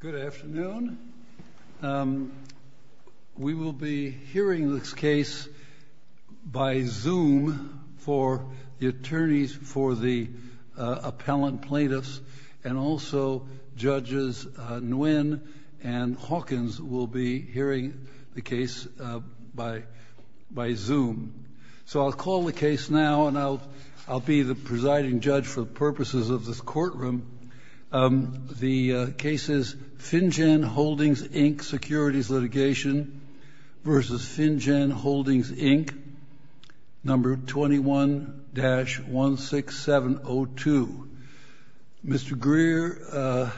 Good afternoon. We will be hearing this case by Zoom for the attorneys for the appellant plaintiffs and also Judges Nguyen and Hawkins will be hearing the case by Zoom. So, I'll call the case now and I'll be the presiding judge for the purposes of this courtroom. The case is Finjan Holdings, Inc., Securities Litigation v. Finjan Holdings, Inc., No. 21-16702. Mr. Grier,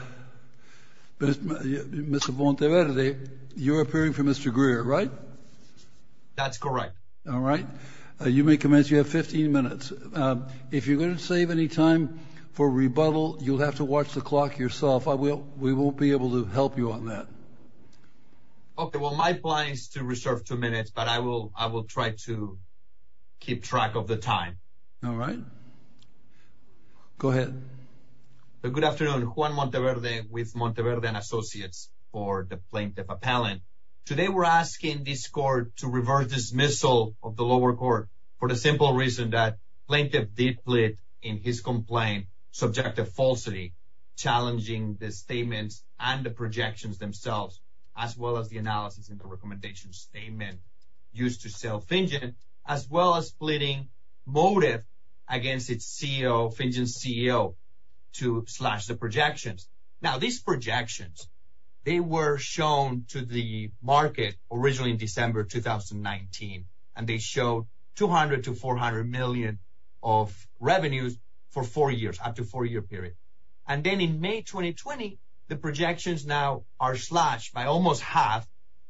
Mr. Bonteverde, you're appearing for Mr. Grier, right? That's correct. All right. You may commence. You have 15 minutes. If you're going to save any time for rebuttal, you'll have to watch the clock yourself. We won't be able to help you on that. Okay. Well, my plan is to reserve two minutes, but I will try to keep track of the time. All right. Go ahead. Good afternoon. Juan Bonteverde with Bonteverde & Associates for the plaintiff appellant. Today, we're asking this court to reverse dismissal of the lower court for the simple reason that plaintiff did plead in his complaint, subjective falsity, challenging the statements and the projections themselves, as well as the analysis and the recommendation statement used to sell Finjan, as well as pleading motive against its CEO, Finjan's CEO, to slash the projections. Now, these projections, they were shown to the market originally in December 2019, and they show 200 to 400 million of revenues for four years, up to four-year period. And then in May 2020, the projections now are slashed by almost half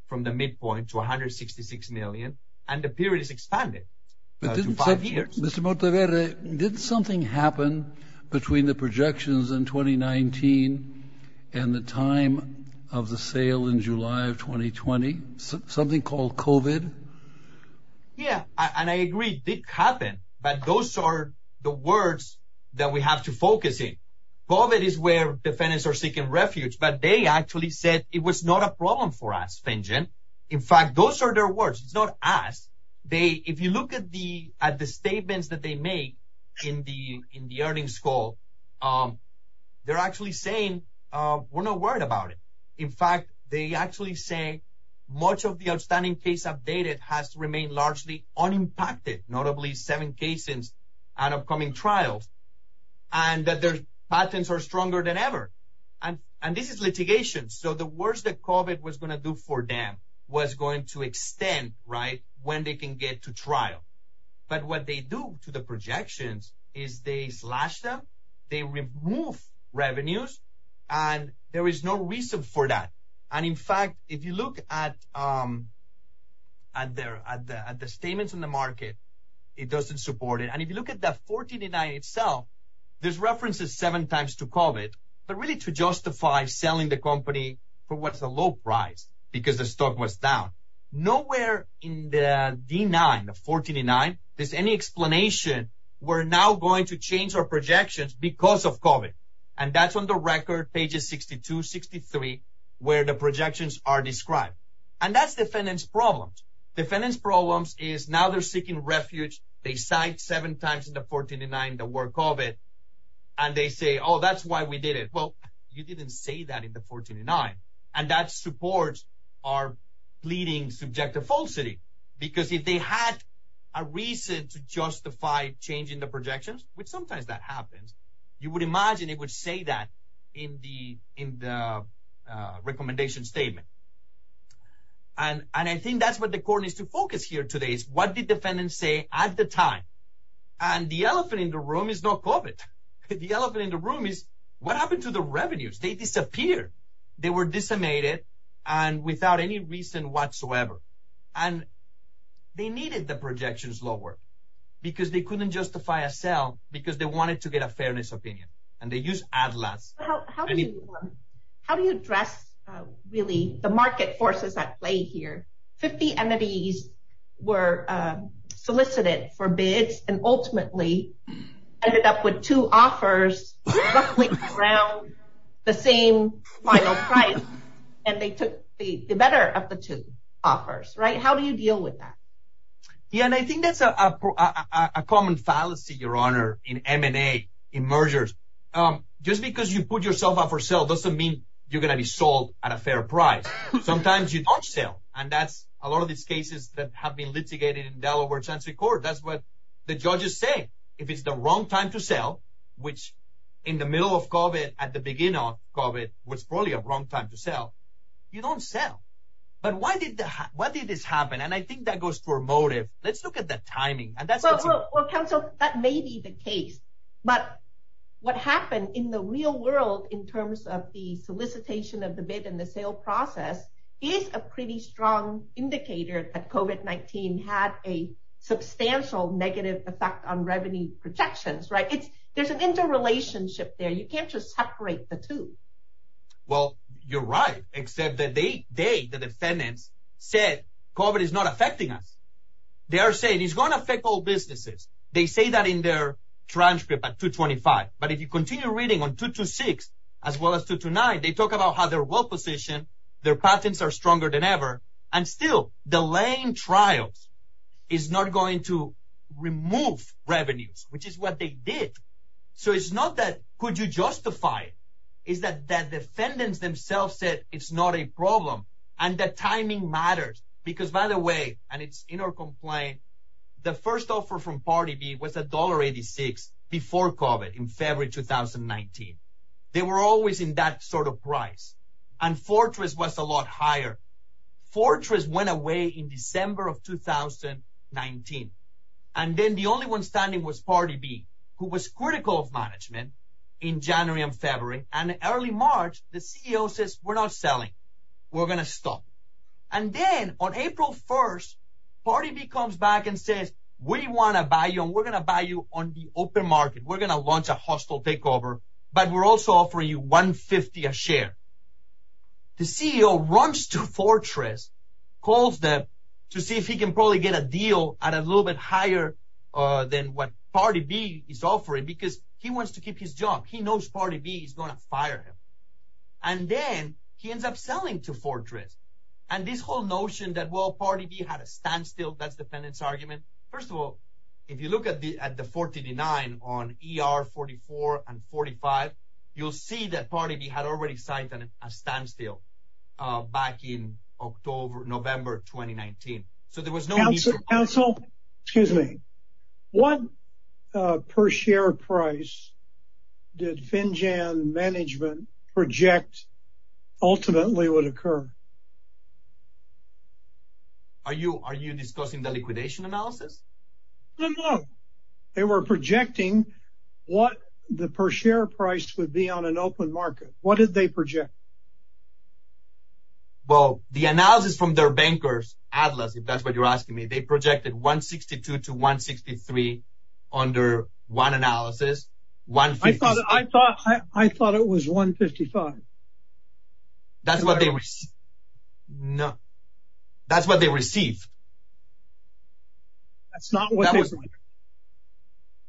from the midpoint to 166 million, and the period is expanded to five years. Mr. Bonteverde, did something happen between the projections in 2019 and the time of the sale in July of 2020? Something called COVID? Yeah, and I agree, it did happen, but those are the words that we have to focus in. COVID is where defendants are seeking refuge, but they actually said it was not a problem for us, Finjan. In fact, those are their words, it's not us. If you look at the statements that they made in the earnings call, they're actually saying, we're not worried about it. In fact, they actually say much of the outstanding case updated has remained largely unimpacted, notably seven cases and upcoming trials, and that their patents are stronger than ever. And this is litigation, so the worst that COVID was going to do for them was going to extend when they can get to trial. But what they do to the projections is they slash them, they remove revenues, and there is no reason for that. And in fact, if you look at the statements in the market, it doesn't support it. And if you look at that 14 and nine itself, there's references seven times to COVID, but really to justify selling the company for what's a low price because the stock was down. Nowhere in the D9, the 14 and nine, there's any explanation we're now going to change our projections because of COVID. And that's on the record, pages 62, 63, where the projections are described. And that's defendant's problems. Defendant's problems is now seeking refuge. They signed seven times in the 14 and nine that were COVID. And they say, oh, that's why we did it. Well, you didn't say that in the 14 and nine. And that supports our pleading subjective falsity. Because if they had a reason to justify changing the projections, which sometimes that happens, you would imagine it would say that in the recommendation statement. And I think that's what the court needs to focus here today is what the defendants say at the time. And the elephant in the room is not COVID. The elephant in the room is what happened to the revenues? They disappeared. They were decimated and without any reason whatsoever. And they needed the projections lower because they couldn't justify a sale because they wanted to get a fairness opinion. And they use Atlas. How do you address really the market forces at play here? 50 entities were solicited for bids and ultimately ended up with two offers around the same final price. And they took the better of the two offers, right? How do you deal with that? Yeah. And I think that's a common fallacy, Your Honor, in M&A, in mergers. Just because you put yourself up for sale doesn't mean you're going to be sold at a fair price. Sometimes you don't sell. And that's a lot of these cases that have been litigated in Delaware Chantry Court. That's what the judges say. If it's the wrong time to sell, which in the middle of COVID, at the beginning of COVID, was probably a wrong time to sell. You don't sell. But why did this happen? And I think that goes for motive. Let's look at the timing. Well, counsel, that may be the case. But what happened in the real world, in terms of the solicitation of the bid and the sale process, is a pretty strong indicator that COVID-19 had a substantial negative effect on revenue projections, right? There's an interrelationship there. You can't just separate the two. Well, you're right, except that they, the defendants, said COVID is not affecting us. They are saying it's going to affect all businesses. They say that in their transcript at 225. But if you continue reading on 226, as well as 229, they talk about how their wealth position, their patents are stronger than ever. And still, delaying trials is not going to remove revenues, which is what they did. So it's not that, could you justify it? It's that the defendants themselves said, it's not a problem. And that timing matters. Because by the way, and it's in our complaint, the first offer from party B was $1.86 before COVID in February 2019. They were always in that sort of price. And Fortress was a lot higher. Fortress went away in December of 2019. And then the only one standing was party B, who was critical of management in January and February. And early March, the CEO says, we're not selling. We're going to stop. And then on April 1st, party B comes back and says, we want to buy you and we're going to buy you on the open market. We're going to launch a hostile takeover, but we're also offering you $1.50 a share. The CEO runs to Fortress, calls them to see if he can probably get a deal at a little bit higher than what party B is offering because he wants to keep his job. He knows party B is going to fire him. And then he ends up selling to Fortress. And this whole notion that, well, party B had a standstill, that's defendant's argument. First of all, if you look at the 40D9 on ER44 and 45, you'll see that party B had already signed a standstill back in October, November 2019. So there was no... Council, excuse me. What per share price did FinJAM management project ultimately would occur? Are you discussing the liquidation analysis? No, no. They were projecting what the per share price would be on an open market. What did they project? Well, the analysis from their bankers, Atlas, if that's what you're asking me, they projected 162 to 163 under one analysis. I thought it was 155. That's what they received. That's not what they received.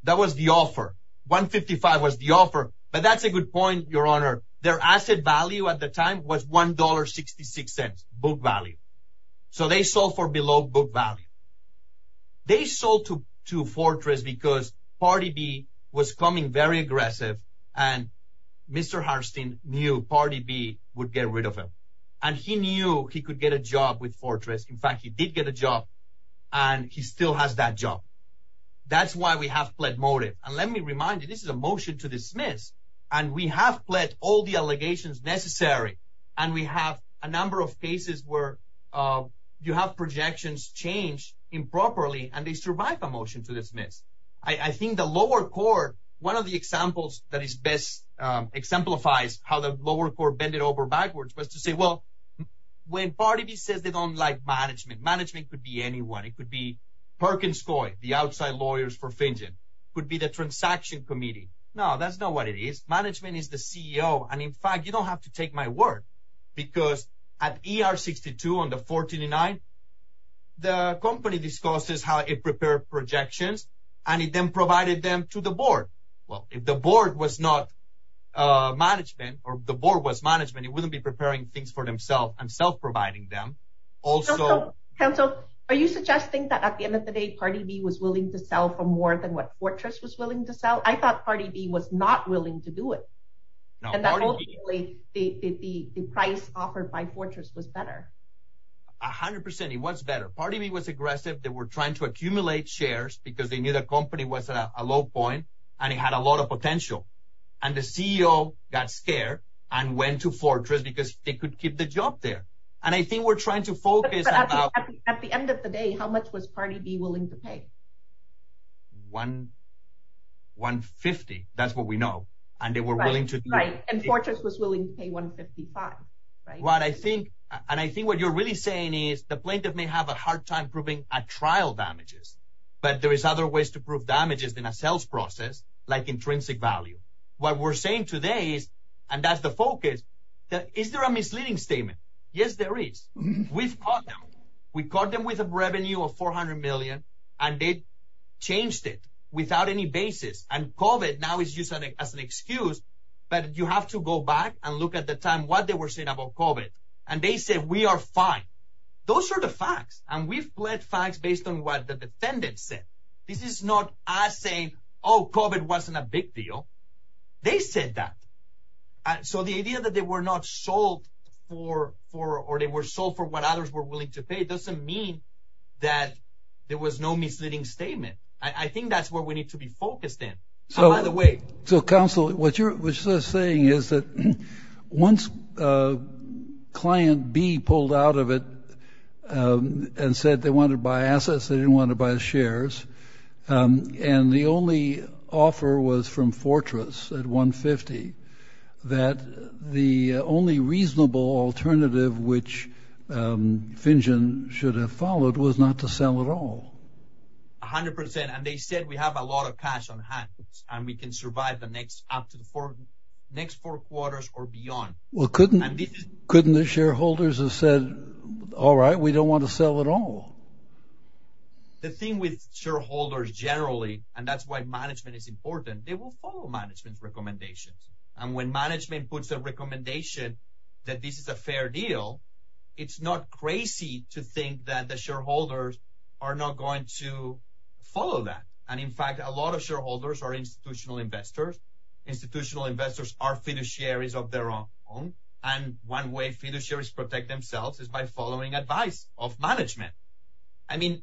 That was the offer. 155 was the offer. But that's a good point, Your Honor. Their asset value at the time was $1.66 book value. So they sold for below book value. They sold to Fortress because party B was coming very aggressive and Mr. Harstein knew party B would get rid of him. And he knew he could get a job with Fortress. In fact, he did get a job and he still has that job. That's why we have pled motive. And let me remind you, this is a motion to dismiss and we have pled all the allegations necessary. And we have a number of cases where you have projections change improperly and they survive a motion to dismiss. I think the lower court, one of the examples that exemplifies how the lower court bend it over backwards was to say, well, when party B says they don't like management, management could be anyone. It could be Perkins Coy, the outside lawyers for Fingen, could be the transaction committee. No, that's not what it is. Management is the CEO. And in fact, you don't have to take my word because at ER62 on the 14 and 9, the company discusses how it prepared projections and it then provided them to the board. Well, if the board was not management or the board was management, it wouldn't be preparing things for themselves and self-providing them. Also, are you suggesting that at the end of the day, party B was willing to sell for more than what Fortress was willing to sell? I thought party B was not willing to do it. And that hopefully the price offered by Fortress was better. A hundred percent. It was better. Party B was aggressive. They were trying to accumulate shares because they knew the company was at a low point and it had a lot of potential. And the CEO got scared and went to Fortress because they could keep the job there. And I think we're trying to focus. At the end of the day, how much was party B willing to pay? 150. That's what we know. And Fortress was willing to pay 155. And I think what you're really saying is the plaintiff may have a hard time proving a trial damages, but there is other ways to prove damages in a sales process, like intrinsic value. What we're saying today is, and that's the focus, is there a misleading statement? Yes, there is. We've caught them. We caught them with a revenue of 400 million and they changed it without any basis. And COVID now is used as an excuse, but you have to go back and look at the time what they were saying about COVID. And they said, we are fine. Those are the facts. And we've bled facts based on what the defendant said. This is not us saying, oh, COVID wasn't a big deal. They said that. So the idea that they were not sold for, or they were sold for what others were willing to pay, doesn't mean that there was no misleading statement. I think that's what we need to be focused in. So by the way. So counsel, what you're saying is that once a client B pulled out of it and said they wanted to buy assets, they didn't want to buy shares. And the only offer was from Fortress at 150, that the only reasonable alternative, which Finjan should have followed was not to sell at all. A hundred percent. And they said we have a lot of cash on hand and we can survive the next, up to the next four quarters or beyond. Well, couldn't the shareholders have said, all right, we don't want to sell at all. The thing with shareholders generally, and that's why management is important. They will follow management's recommendations. And when management puts a recommendation that this is a fair deal, it's not crazy to think that the shareholders are not going to are fiduciaries of their own. And one way fiduciaries protect themselves is by following advice of management. I mean,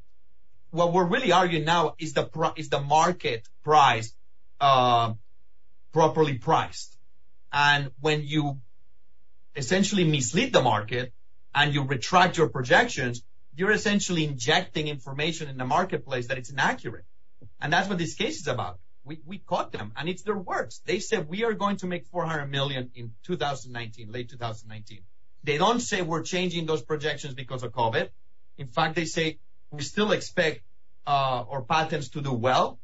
what we're really arguing now is the market price properly priced. And when you essentially mislead the market and you retract your projections, you're essentially injecting information in the marketplace that it's inaccurate. And that's what this case is about. We caught them and it's their words. They said, we are going to make 400 million in 2019, late 2019. They don't say we're changing those projections because of COVID. In fact, they say we still expect our patents to do well.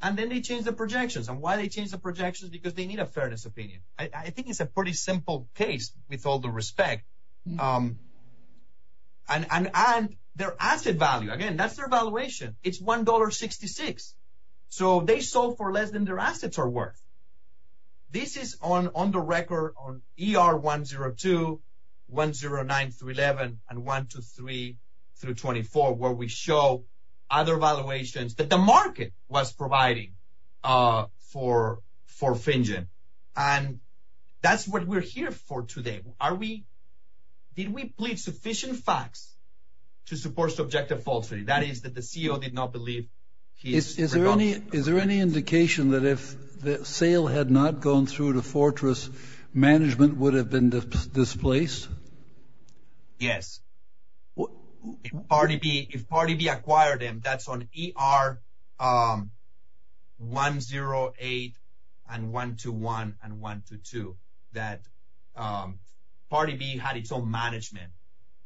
And then they change the projections and why they change the projections, because they need a fairness opinion. I think it's a pretty simple case with all the respect. And their asset value, again, that's their valuation. It's $1.66. So they sold for less than their assets are worth. This is on the record on ER 102, 109 through 11, and 123 through 24, where we show other valuations that the market was providing for FinGen. And that's what we're here for today. Are we, did we plead sufficient facts to support subjective falsity? That is that the CEO did not believe. Is there any indication that if the sale had not gone through the fortress management would have been displaced? Yes. If party B acquired them, that's on ER 108 and 121 and 122, that party B had its own management.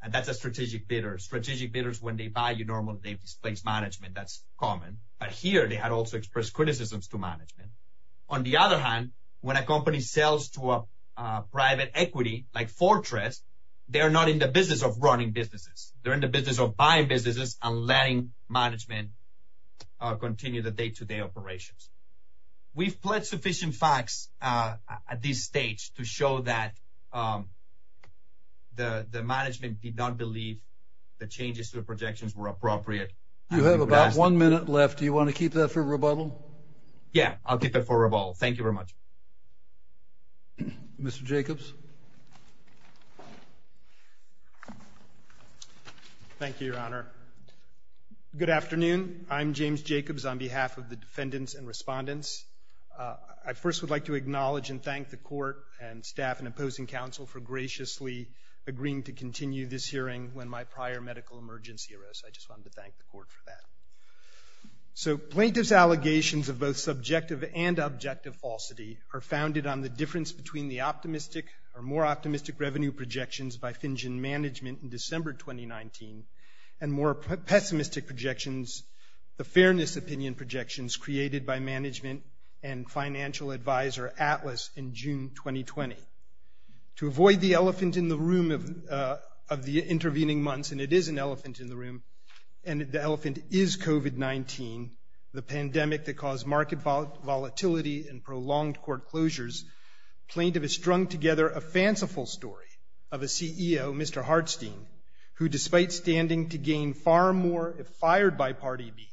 And that's a strategic bidder. Strategic bidders, when they value normal, they've displaced management. That's common. But here they had also expressed criticisms to management. On the other hand, when a company sells to a private equity like fortress, they are not in the business of running businesses. They're in the business of buying businesses and letting management continue the day-to-day operations. We've pledged sufficient facts at this stage to show that the management did not believe the changes to the projections were appropriate. You have about one minute left. Do you want to keep that for rebuttal? Yeah, I'll keep it for rebuttal. Thank you very much. Mr. Jacobs? Thank you, Your Honor. Good afternoon. I'm James Jacobs on behalf of the defendants and respondents. I first would like to acknowledge and thank the court and staff and opposing counsel for graciously agreeing to continue this hearing when my prior medical emergency arose. I just wanted to thank the court for that. So plaintiff's allegations of both subjective and objective falsity are founded on the difference between the optimistic or more optimistic revenue projections by FinGen management in December 2019 and more pessimistic projections, the fairness opinion projections created by management and financial advisor Atlas in June 2020. To avoid the elephant in the room of the intervening months, and it is an elephant in the room, and the elephant is COVID-19, the pandemic that caused market volatility and prolonged court closures. Plaintiff has strung together a fanciful story of a CEO, Mr. Hartstein, who, despite standing to gain far more if fired by Part B,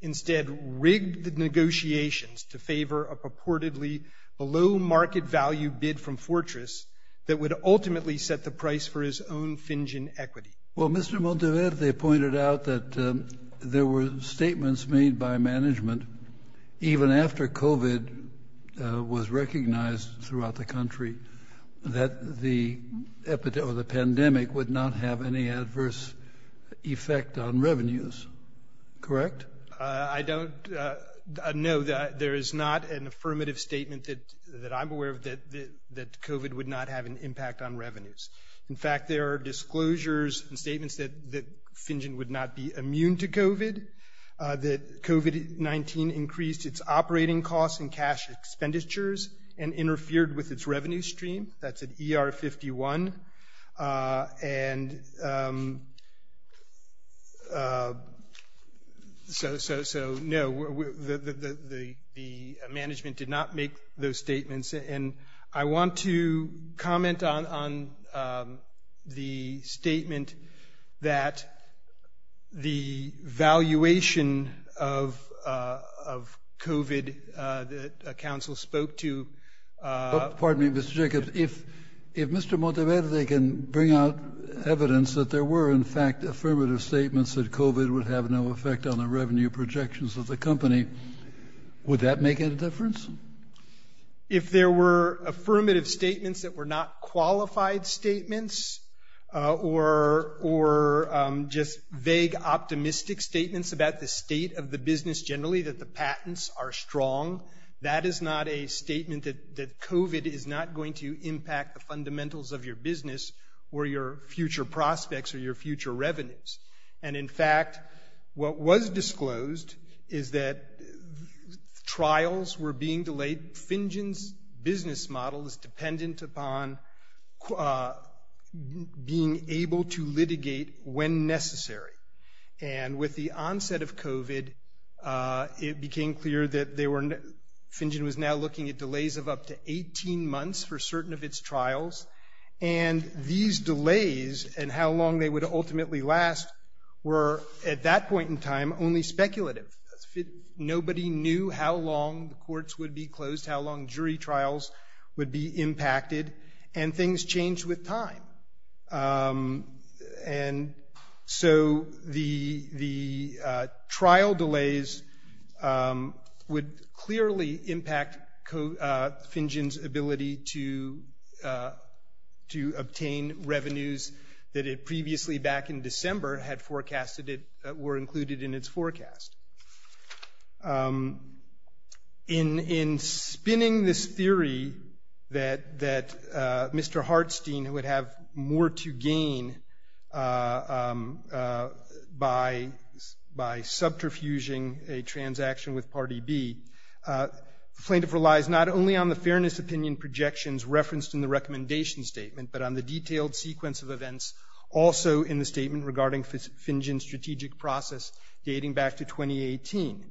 instead rigged the negotiations to favor a purportedly below market value bid from Fortress that would ultimately set the price for his own FinGen equity. Well, Mr. Monteverde, they pointed out that there were statements made by management, even after COVID was recognized throughout the country, that the epidemic or the pandemic would not have any adverse effect on revenues. Correct? I don't know that there is not an affirmative statement that I'm aware of that COVID would not have an impact on revenues. In fact, there are disclosures and statements that FinGen would not be immune to COVID, that COVID-19 increased its operating costs and cash expenditures and interfered with its revenue stream. That's an ER51. And so, no, the management did not make those statements. And I want to comment on the statement that the valuation of COVID that counsel spoke to- there were, in fact, affirmative statements that COVID would have no effect on the revenue projections of the company. Would that make any difference? If there were affirmative statements that were not qualified statements or just vague optimistic statements about the state of the business generally, that the patents are strong, that is not a statement that COVID is not going to impact the fundamentals of your business or your future prospects or your future revenues. And in fact, what was disclosed is that trials were being delayed. FinGen's business model is dependent upon being able to litigate when necessary. And with the onset of COVID, it became clear that they were- FinGen was now looking at delays of up to 18 months for certain of its trials. And these delays and how long they would ultimately last were, at that point in time, only speculative. Nobody knew how long the courts would be closed, how long jury trials would be impacted, and things changed with time. And so the trial delays would clearly impact FinGen's ability to obtain revenues that it previously, back in December, had forecasted that were included in its forecast. In spinning this theory that Mr. Hartstein would have more to gain by subterfuging a transaction with Party B, the plaintiff relies not only on the fairness opinion projections referenced in the recommendation statement, but on the detailed sequence of events also in the statement regarding FinGen's strategic process dating back to 2018.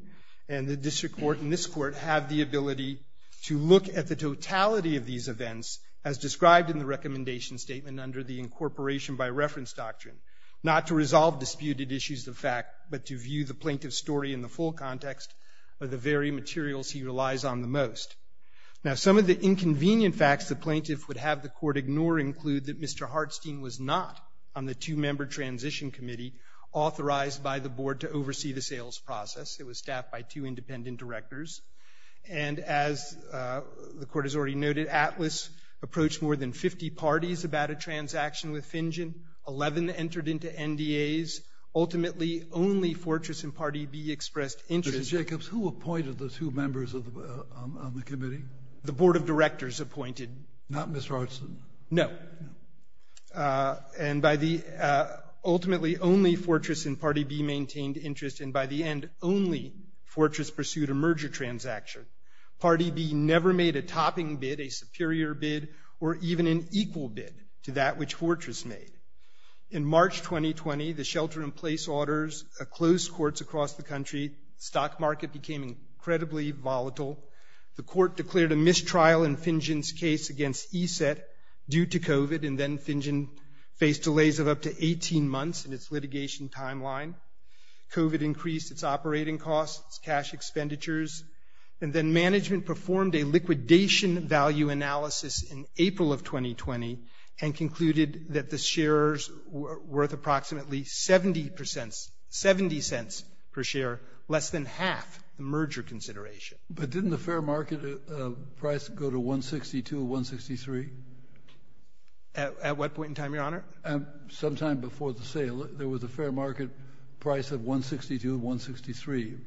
And the district court and this court have the ability to look at the totality of these events as described in the recommendation statement under the incorporation by reference doctrine, not to resolve disputed issues of fact, but to view the plaintiff's story in the full context of the very materials he relies on the most. Now, some of the inconvenient facts the plaintiff would have the court ignore include that Mr. Hartstein was not on the two-member transition committee authorized by the board to oversee the sales process. It was staffed by two independent directors. And as the court has already noted, Atlas approached more than 50 parties about a transaction with FinGen. Eleven entered into NDAs. Ultimately, only Fortress and Party B expressed interest. Mr. Jacobs, who appointed the two members on the committee? The board of directors appointed— Not Ms. Hartstein. No. And by the—ultimately, only Fortress and Party B maintained interest. And by the end, only Fortress pursued a merger transaction. Party B never made a topping bid, a superior bid, or even an equal bid to that which Fortress made. In March 2020, the shelter-in-place orders closed courts across the country. The stock market became incredibly volatile. The court declared a mistrial in FinGen's case against ESET due to COVID, and then FinGen faced delays of up to 18 months in its litigation timeline. COVID increased its operating costs, its cash expenditures, and then management performed a liquidation value analysis in April of 2020 and concluded that the shares were worth approximately 70 cents per share, less than half the merger consideration. But didn't the fair market price go to 162, 163? At what point in time, Your Honor? Sometime before the sale. There was a fair market price of 162, 163.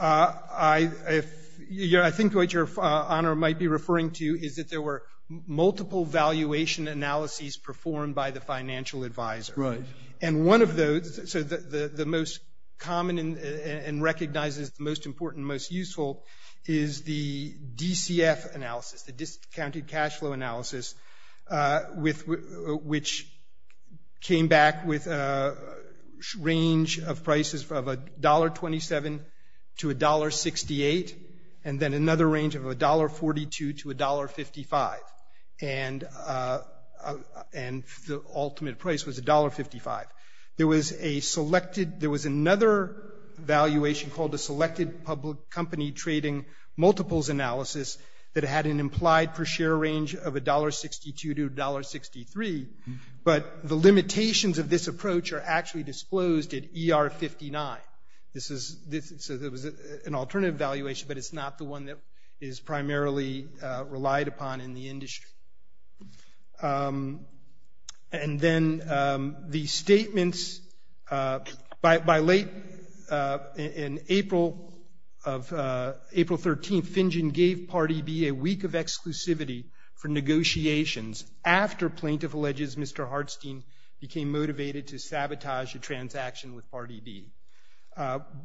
I think what Your Honor might be referring to is that there were multiple valuation analyses performed by the financial advisor. Right. And one of those—so the most common and recognized as the most important and most useful is the DCF analysis, the discounted cash flow analysis, which came back with a range of prices of $1.27 to $1.68, and then another range of $1.42 to $1.55, and the ultimate price was $1.55. There was a selected—there was another valuation called a selected public company trading multiples analysis that had an implied per share range of $1.62 to $1.63, but the limitations of this approach are actually disclosed at ER59. This is—so there was an alternative valuation, but it's not the one that is primarily relied upon in the industry. And then the statements—by late in April of—April 13, Fingen gave Part E.B. a week of exclusivity for negotiations after plaintiff alleges Mr. Part E.B.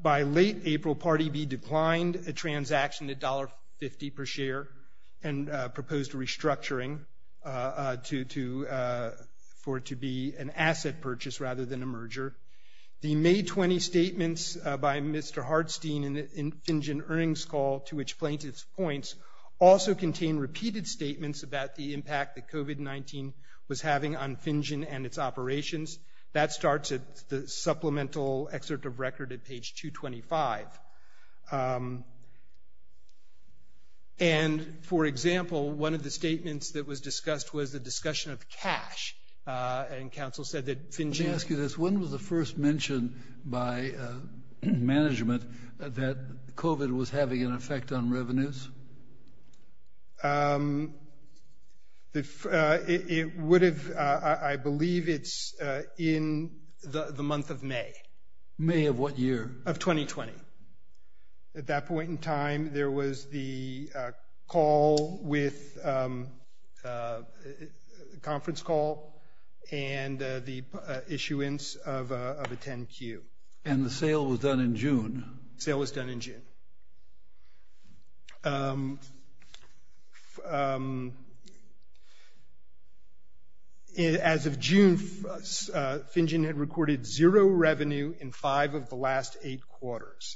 By late April, Part E.B. declined a transaction at $1.50 per share and proposed restructuring to—for it to be an asset purchase rather than a merger. The May 20 statements by Mr. Hartstein in Fingen earnings call to which plaintiffs points also contain repeated statements about the impact that COVID-19 was having on Fingen and its operations. That starts at the supplemental excerpt of record at page 225. And, for example, one of the statements that was discussed was the discussion of cash, and counsel said that Fingen— Let me ask you this. When was the first mention by management that COVID was having an effect on revenues? It would have—I believe it's in the month of May. May of what year? Of 2020. At that point in time, there was the call with—conference call and the issuance of a 10-Q. Sale was done in June. As of June, Fingen had recorded zero revenue in five of the last eight quarters.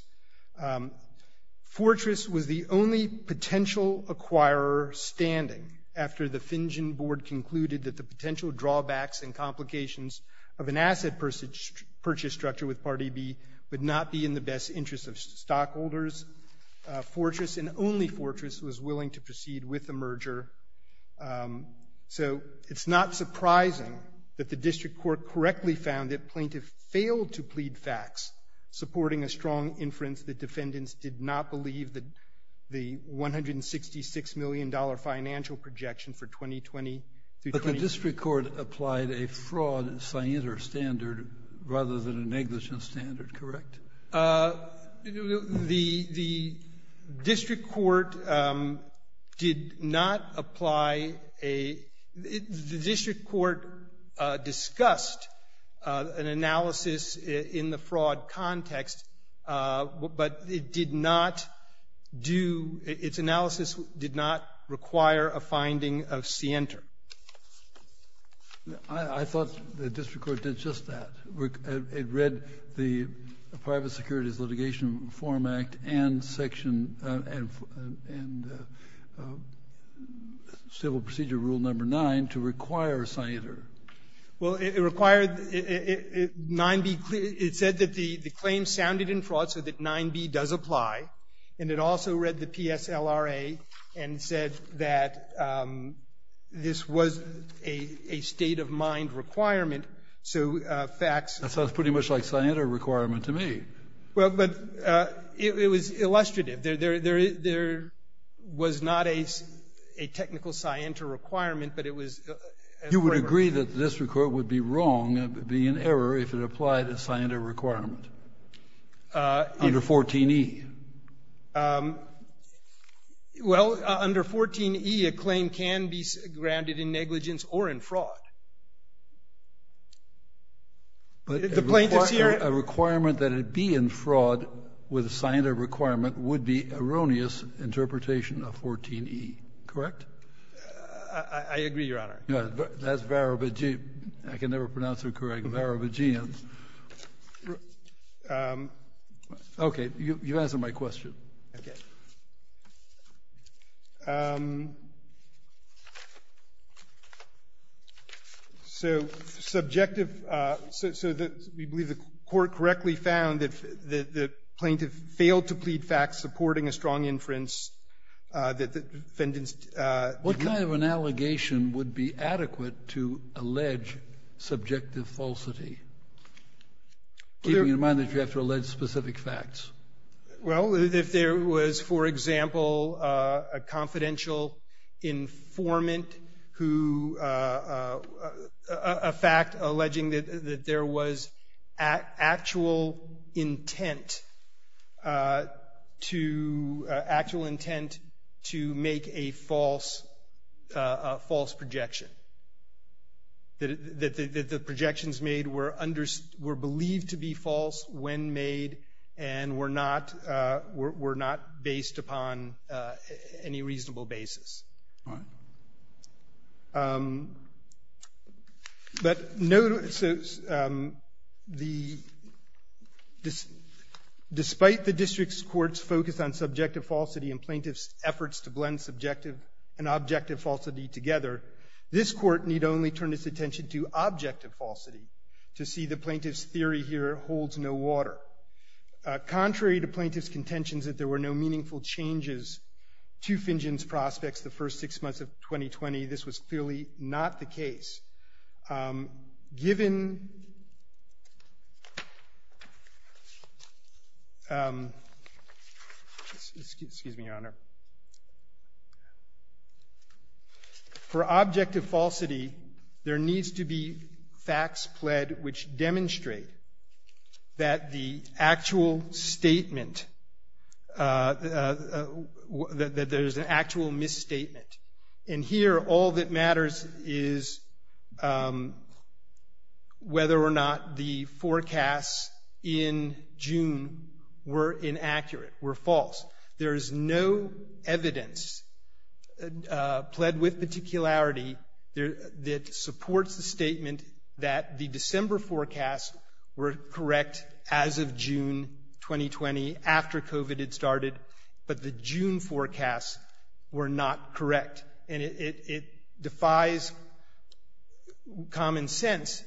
Fortress was the only potential acquirer standing after the Fingen board concluded that the potential drawbacks and complications of an asset purchase structure with Part E.B. would not be in the best interest of stockholders. Fortress, and only Fortress, was willing to proceed with the merger. So it's not surprising that the district court correctly found that plaintiff failed to plead facts supporting a strong inference that defendants did not believe that the $166 million financial projection for 2020— But the district court applied a fraud-scienter standard rather than a negligence standard, correct? The district court did not apply a—the district court discussed an analysis in the fraud context, but it did not do—its analysis did not require a finding of scienter. I thought the district court did just that. It read the Private Securities Litigation Reform Act and section—and Civil Procedure Rule No. 9 to require scienter. Well, it required—9B—it said that the claim sounded in fraud, so that 9B does apply, and it also read the PSLRA and said that this was a state-of-mind requirement, so facts— That sounds pretty much like scienter requirement to me. Well, but it was illustrative. There was not a technical scienter requirement, but it was— You would agree that this record would be wrong, be an error, if it applied a scienter requirement under 14E? Well, under 14E, a claim can be grounded in negligence or in fraud. But the plaintiffs here— A requirement that it be in fraud with a scienter requirement would be erroneous interpretation of 14E, correct? I agree, Your Honor. That's Varovagian—I can never pronounce it correctly—Varovagian. Okay. You've answered my question. Okay. So subjective—so we believe the Court correctly found that the plaintiff failed to plead facts supporting a strong inference that the defendants— What kind of an allegation would be adequate to allege subjective falsity, keeping in mind that you have to allege specific facts? Well, if there was, for example, a confidential informant who—a alleging that there was actual intent to make a false projection, that the projections made were believed to be false when made and were not based upon any reasonable basis. All right. But no—so the—despite the district's court's focus on subjective falsity and plaintiff's efforts to blend subjective and objective falsity together, this Court need only turn its attention to objective falsity to see the plaintiff's theory here holds no water. Contrary to plaintiff's contentions that there were no meaningful changes to Fingen's prospects the first six months of 2020, this was clearly not the case. Given— Excuse me, Your Honor. For objective falsity, there needs to be facts pled which demonstrate that the actual statement that there's an actual misstatement. And here, all that matters is whether or not the forecasts in June were inaccurate, were false. There is no evidence pled with particularity that supports the statement that the December forecasts were not correct. And it defies common sense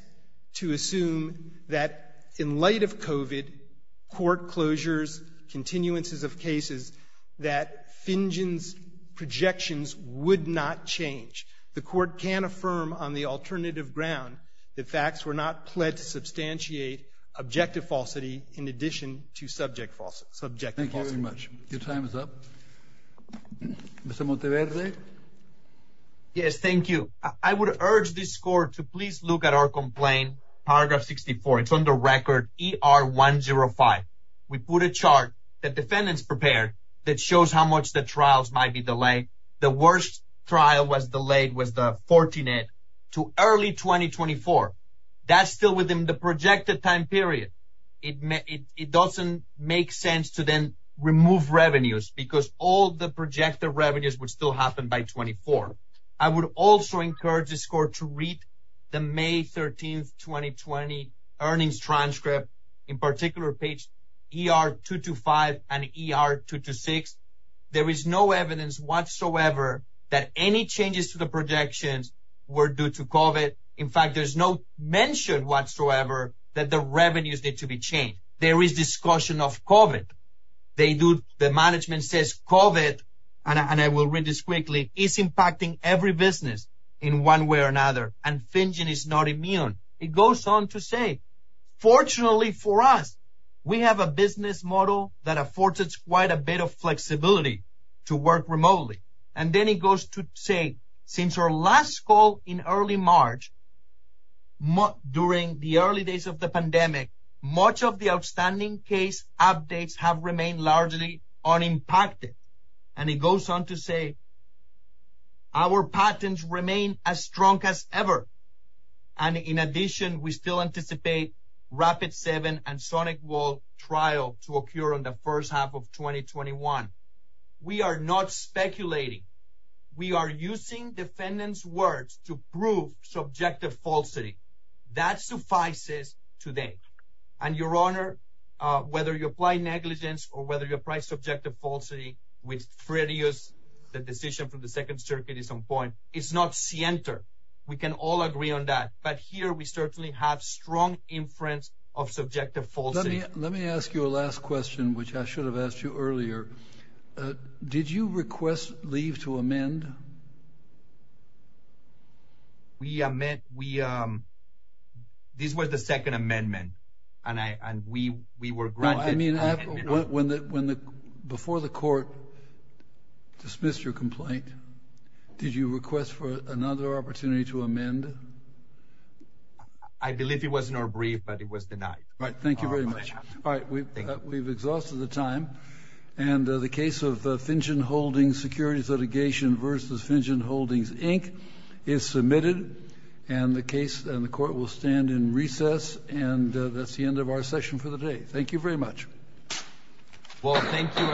to assume that in light of COVID, court closures, continuances of cases, that Fingen's projections would not change. The Court can affirm on the alternative ground that facts were not pled to substantiate objective falsity in addition to subject falsity. Thank you very much. Your time is up. Mr. Monteverde? Yes, thank you. I would urge this Court to please look at our complaint, paragraph 64. It's on the record, ER 105. We put a chart that defendants prepared that shows how much the trials might be delayed. The worst trial was delayed was the 14-8 to early 2024. That's still within the projected time period. It doesn't make sense to then remove revenues because all the projected revenues would still happen by 2024. I would also encourage this Court to read the May 13, 2020 earnings transcript, in particular page ER 225 and ER 226. There is no evidence whatsoever that any changes to the projections were due to COVID. In fact, there's no mention whatsoever that the revenues need to be changed. There is discussion of COVID. The management says COVID, and I will read this quickly, is impacting every business in one way or another, and Fingen is not immune. It goes on to say, fortunately for us, we have a business model that affords us quite a bit of flexibility to work remotely. And then it goes to say, since our last call in early March, during the early days of the pandemic, much of the outstanding case updates have remained largely unimpacted. And it goes on to say, our patents remain as strong as ever. And in addition, we still anticipate Rapid 7 and SonicWall trial to occur in the first half of 2021. We are not speculating. We are using defendants' words to prove subjective falsity. That suffices today. And, Your Honor, whether you apply negligence or whether you apply subjective falsity, which Fredio's decision from the Second Circuit is on point, it's not scienter. We can all agree on that. But here, we certainly have strong inference of subjective falsity. Let me ask you a last question, which I should have asked you earlier. Did you request leave to amend? We amend. This was the Second Amendment, and we were granted. No, I mean, before the court dismissed your complaint, did you request for another opportunity to amend? I believe it was in our brief, but it was denied. All right, thank you very much. All right, we've exhausted the time. And the case of Fingen-Holdings Securities Litigation v. Fingen-Holdings, Inc. is submitted. And the court will stand in recess. And that's the end of our session for the day. Thank you very much. Well, thank you, everyone.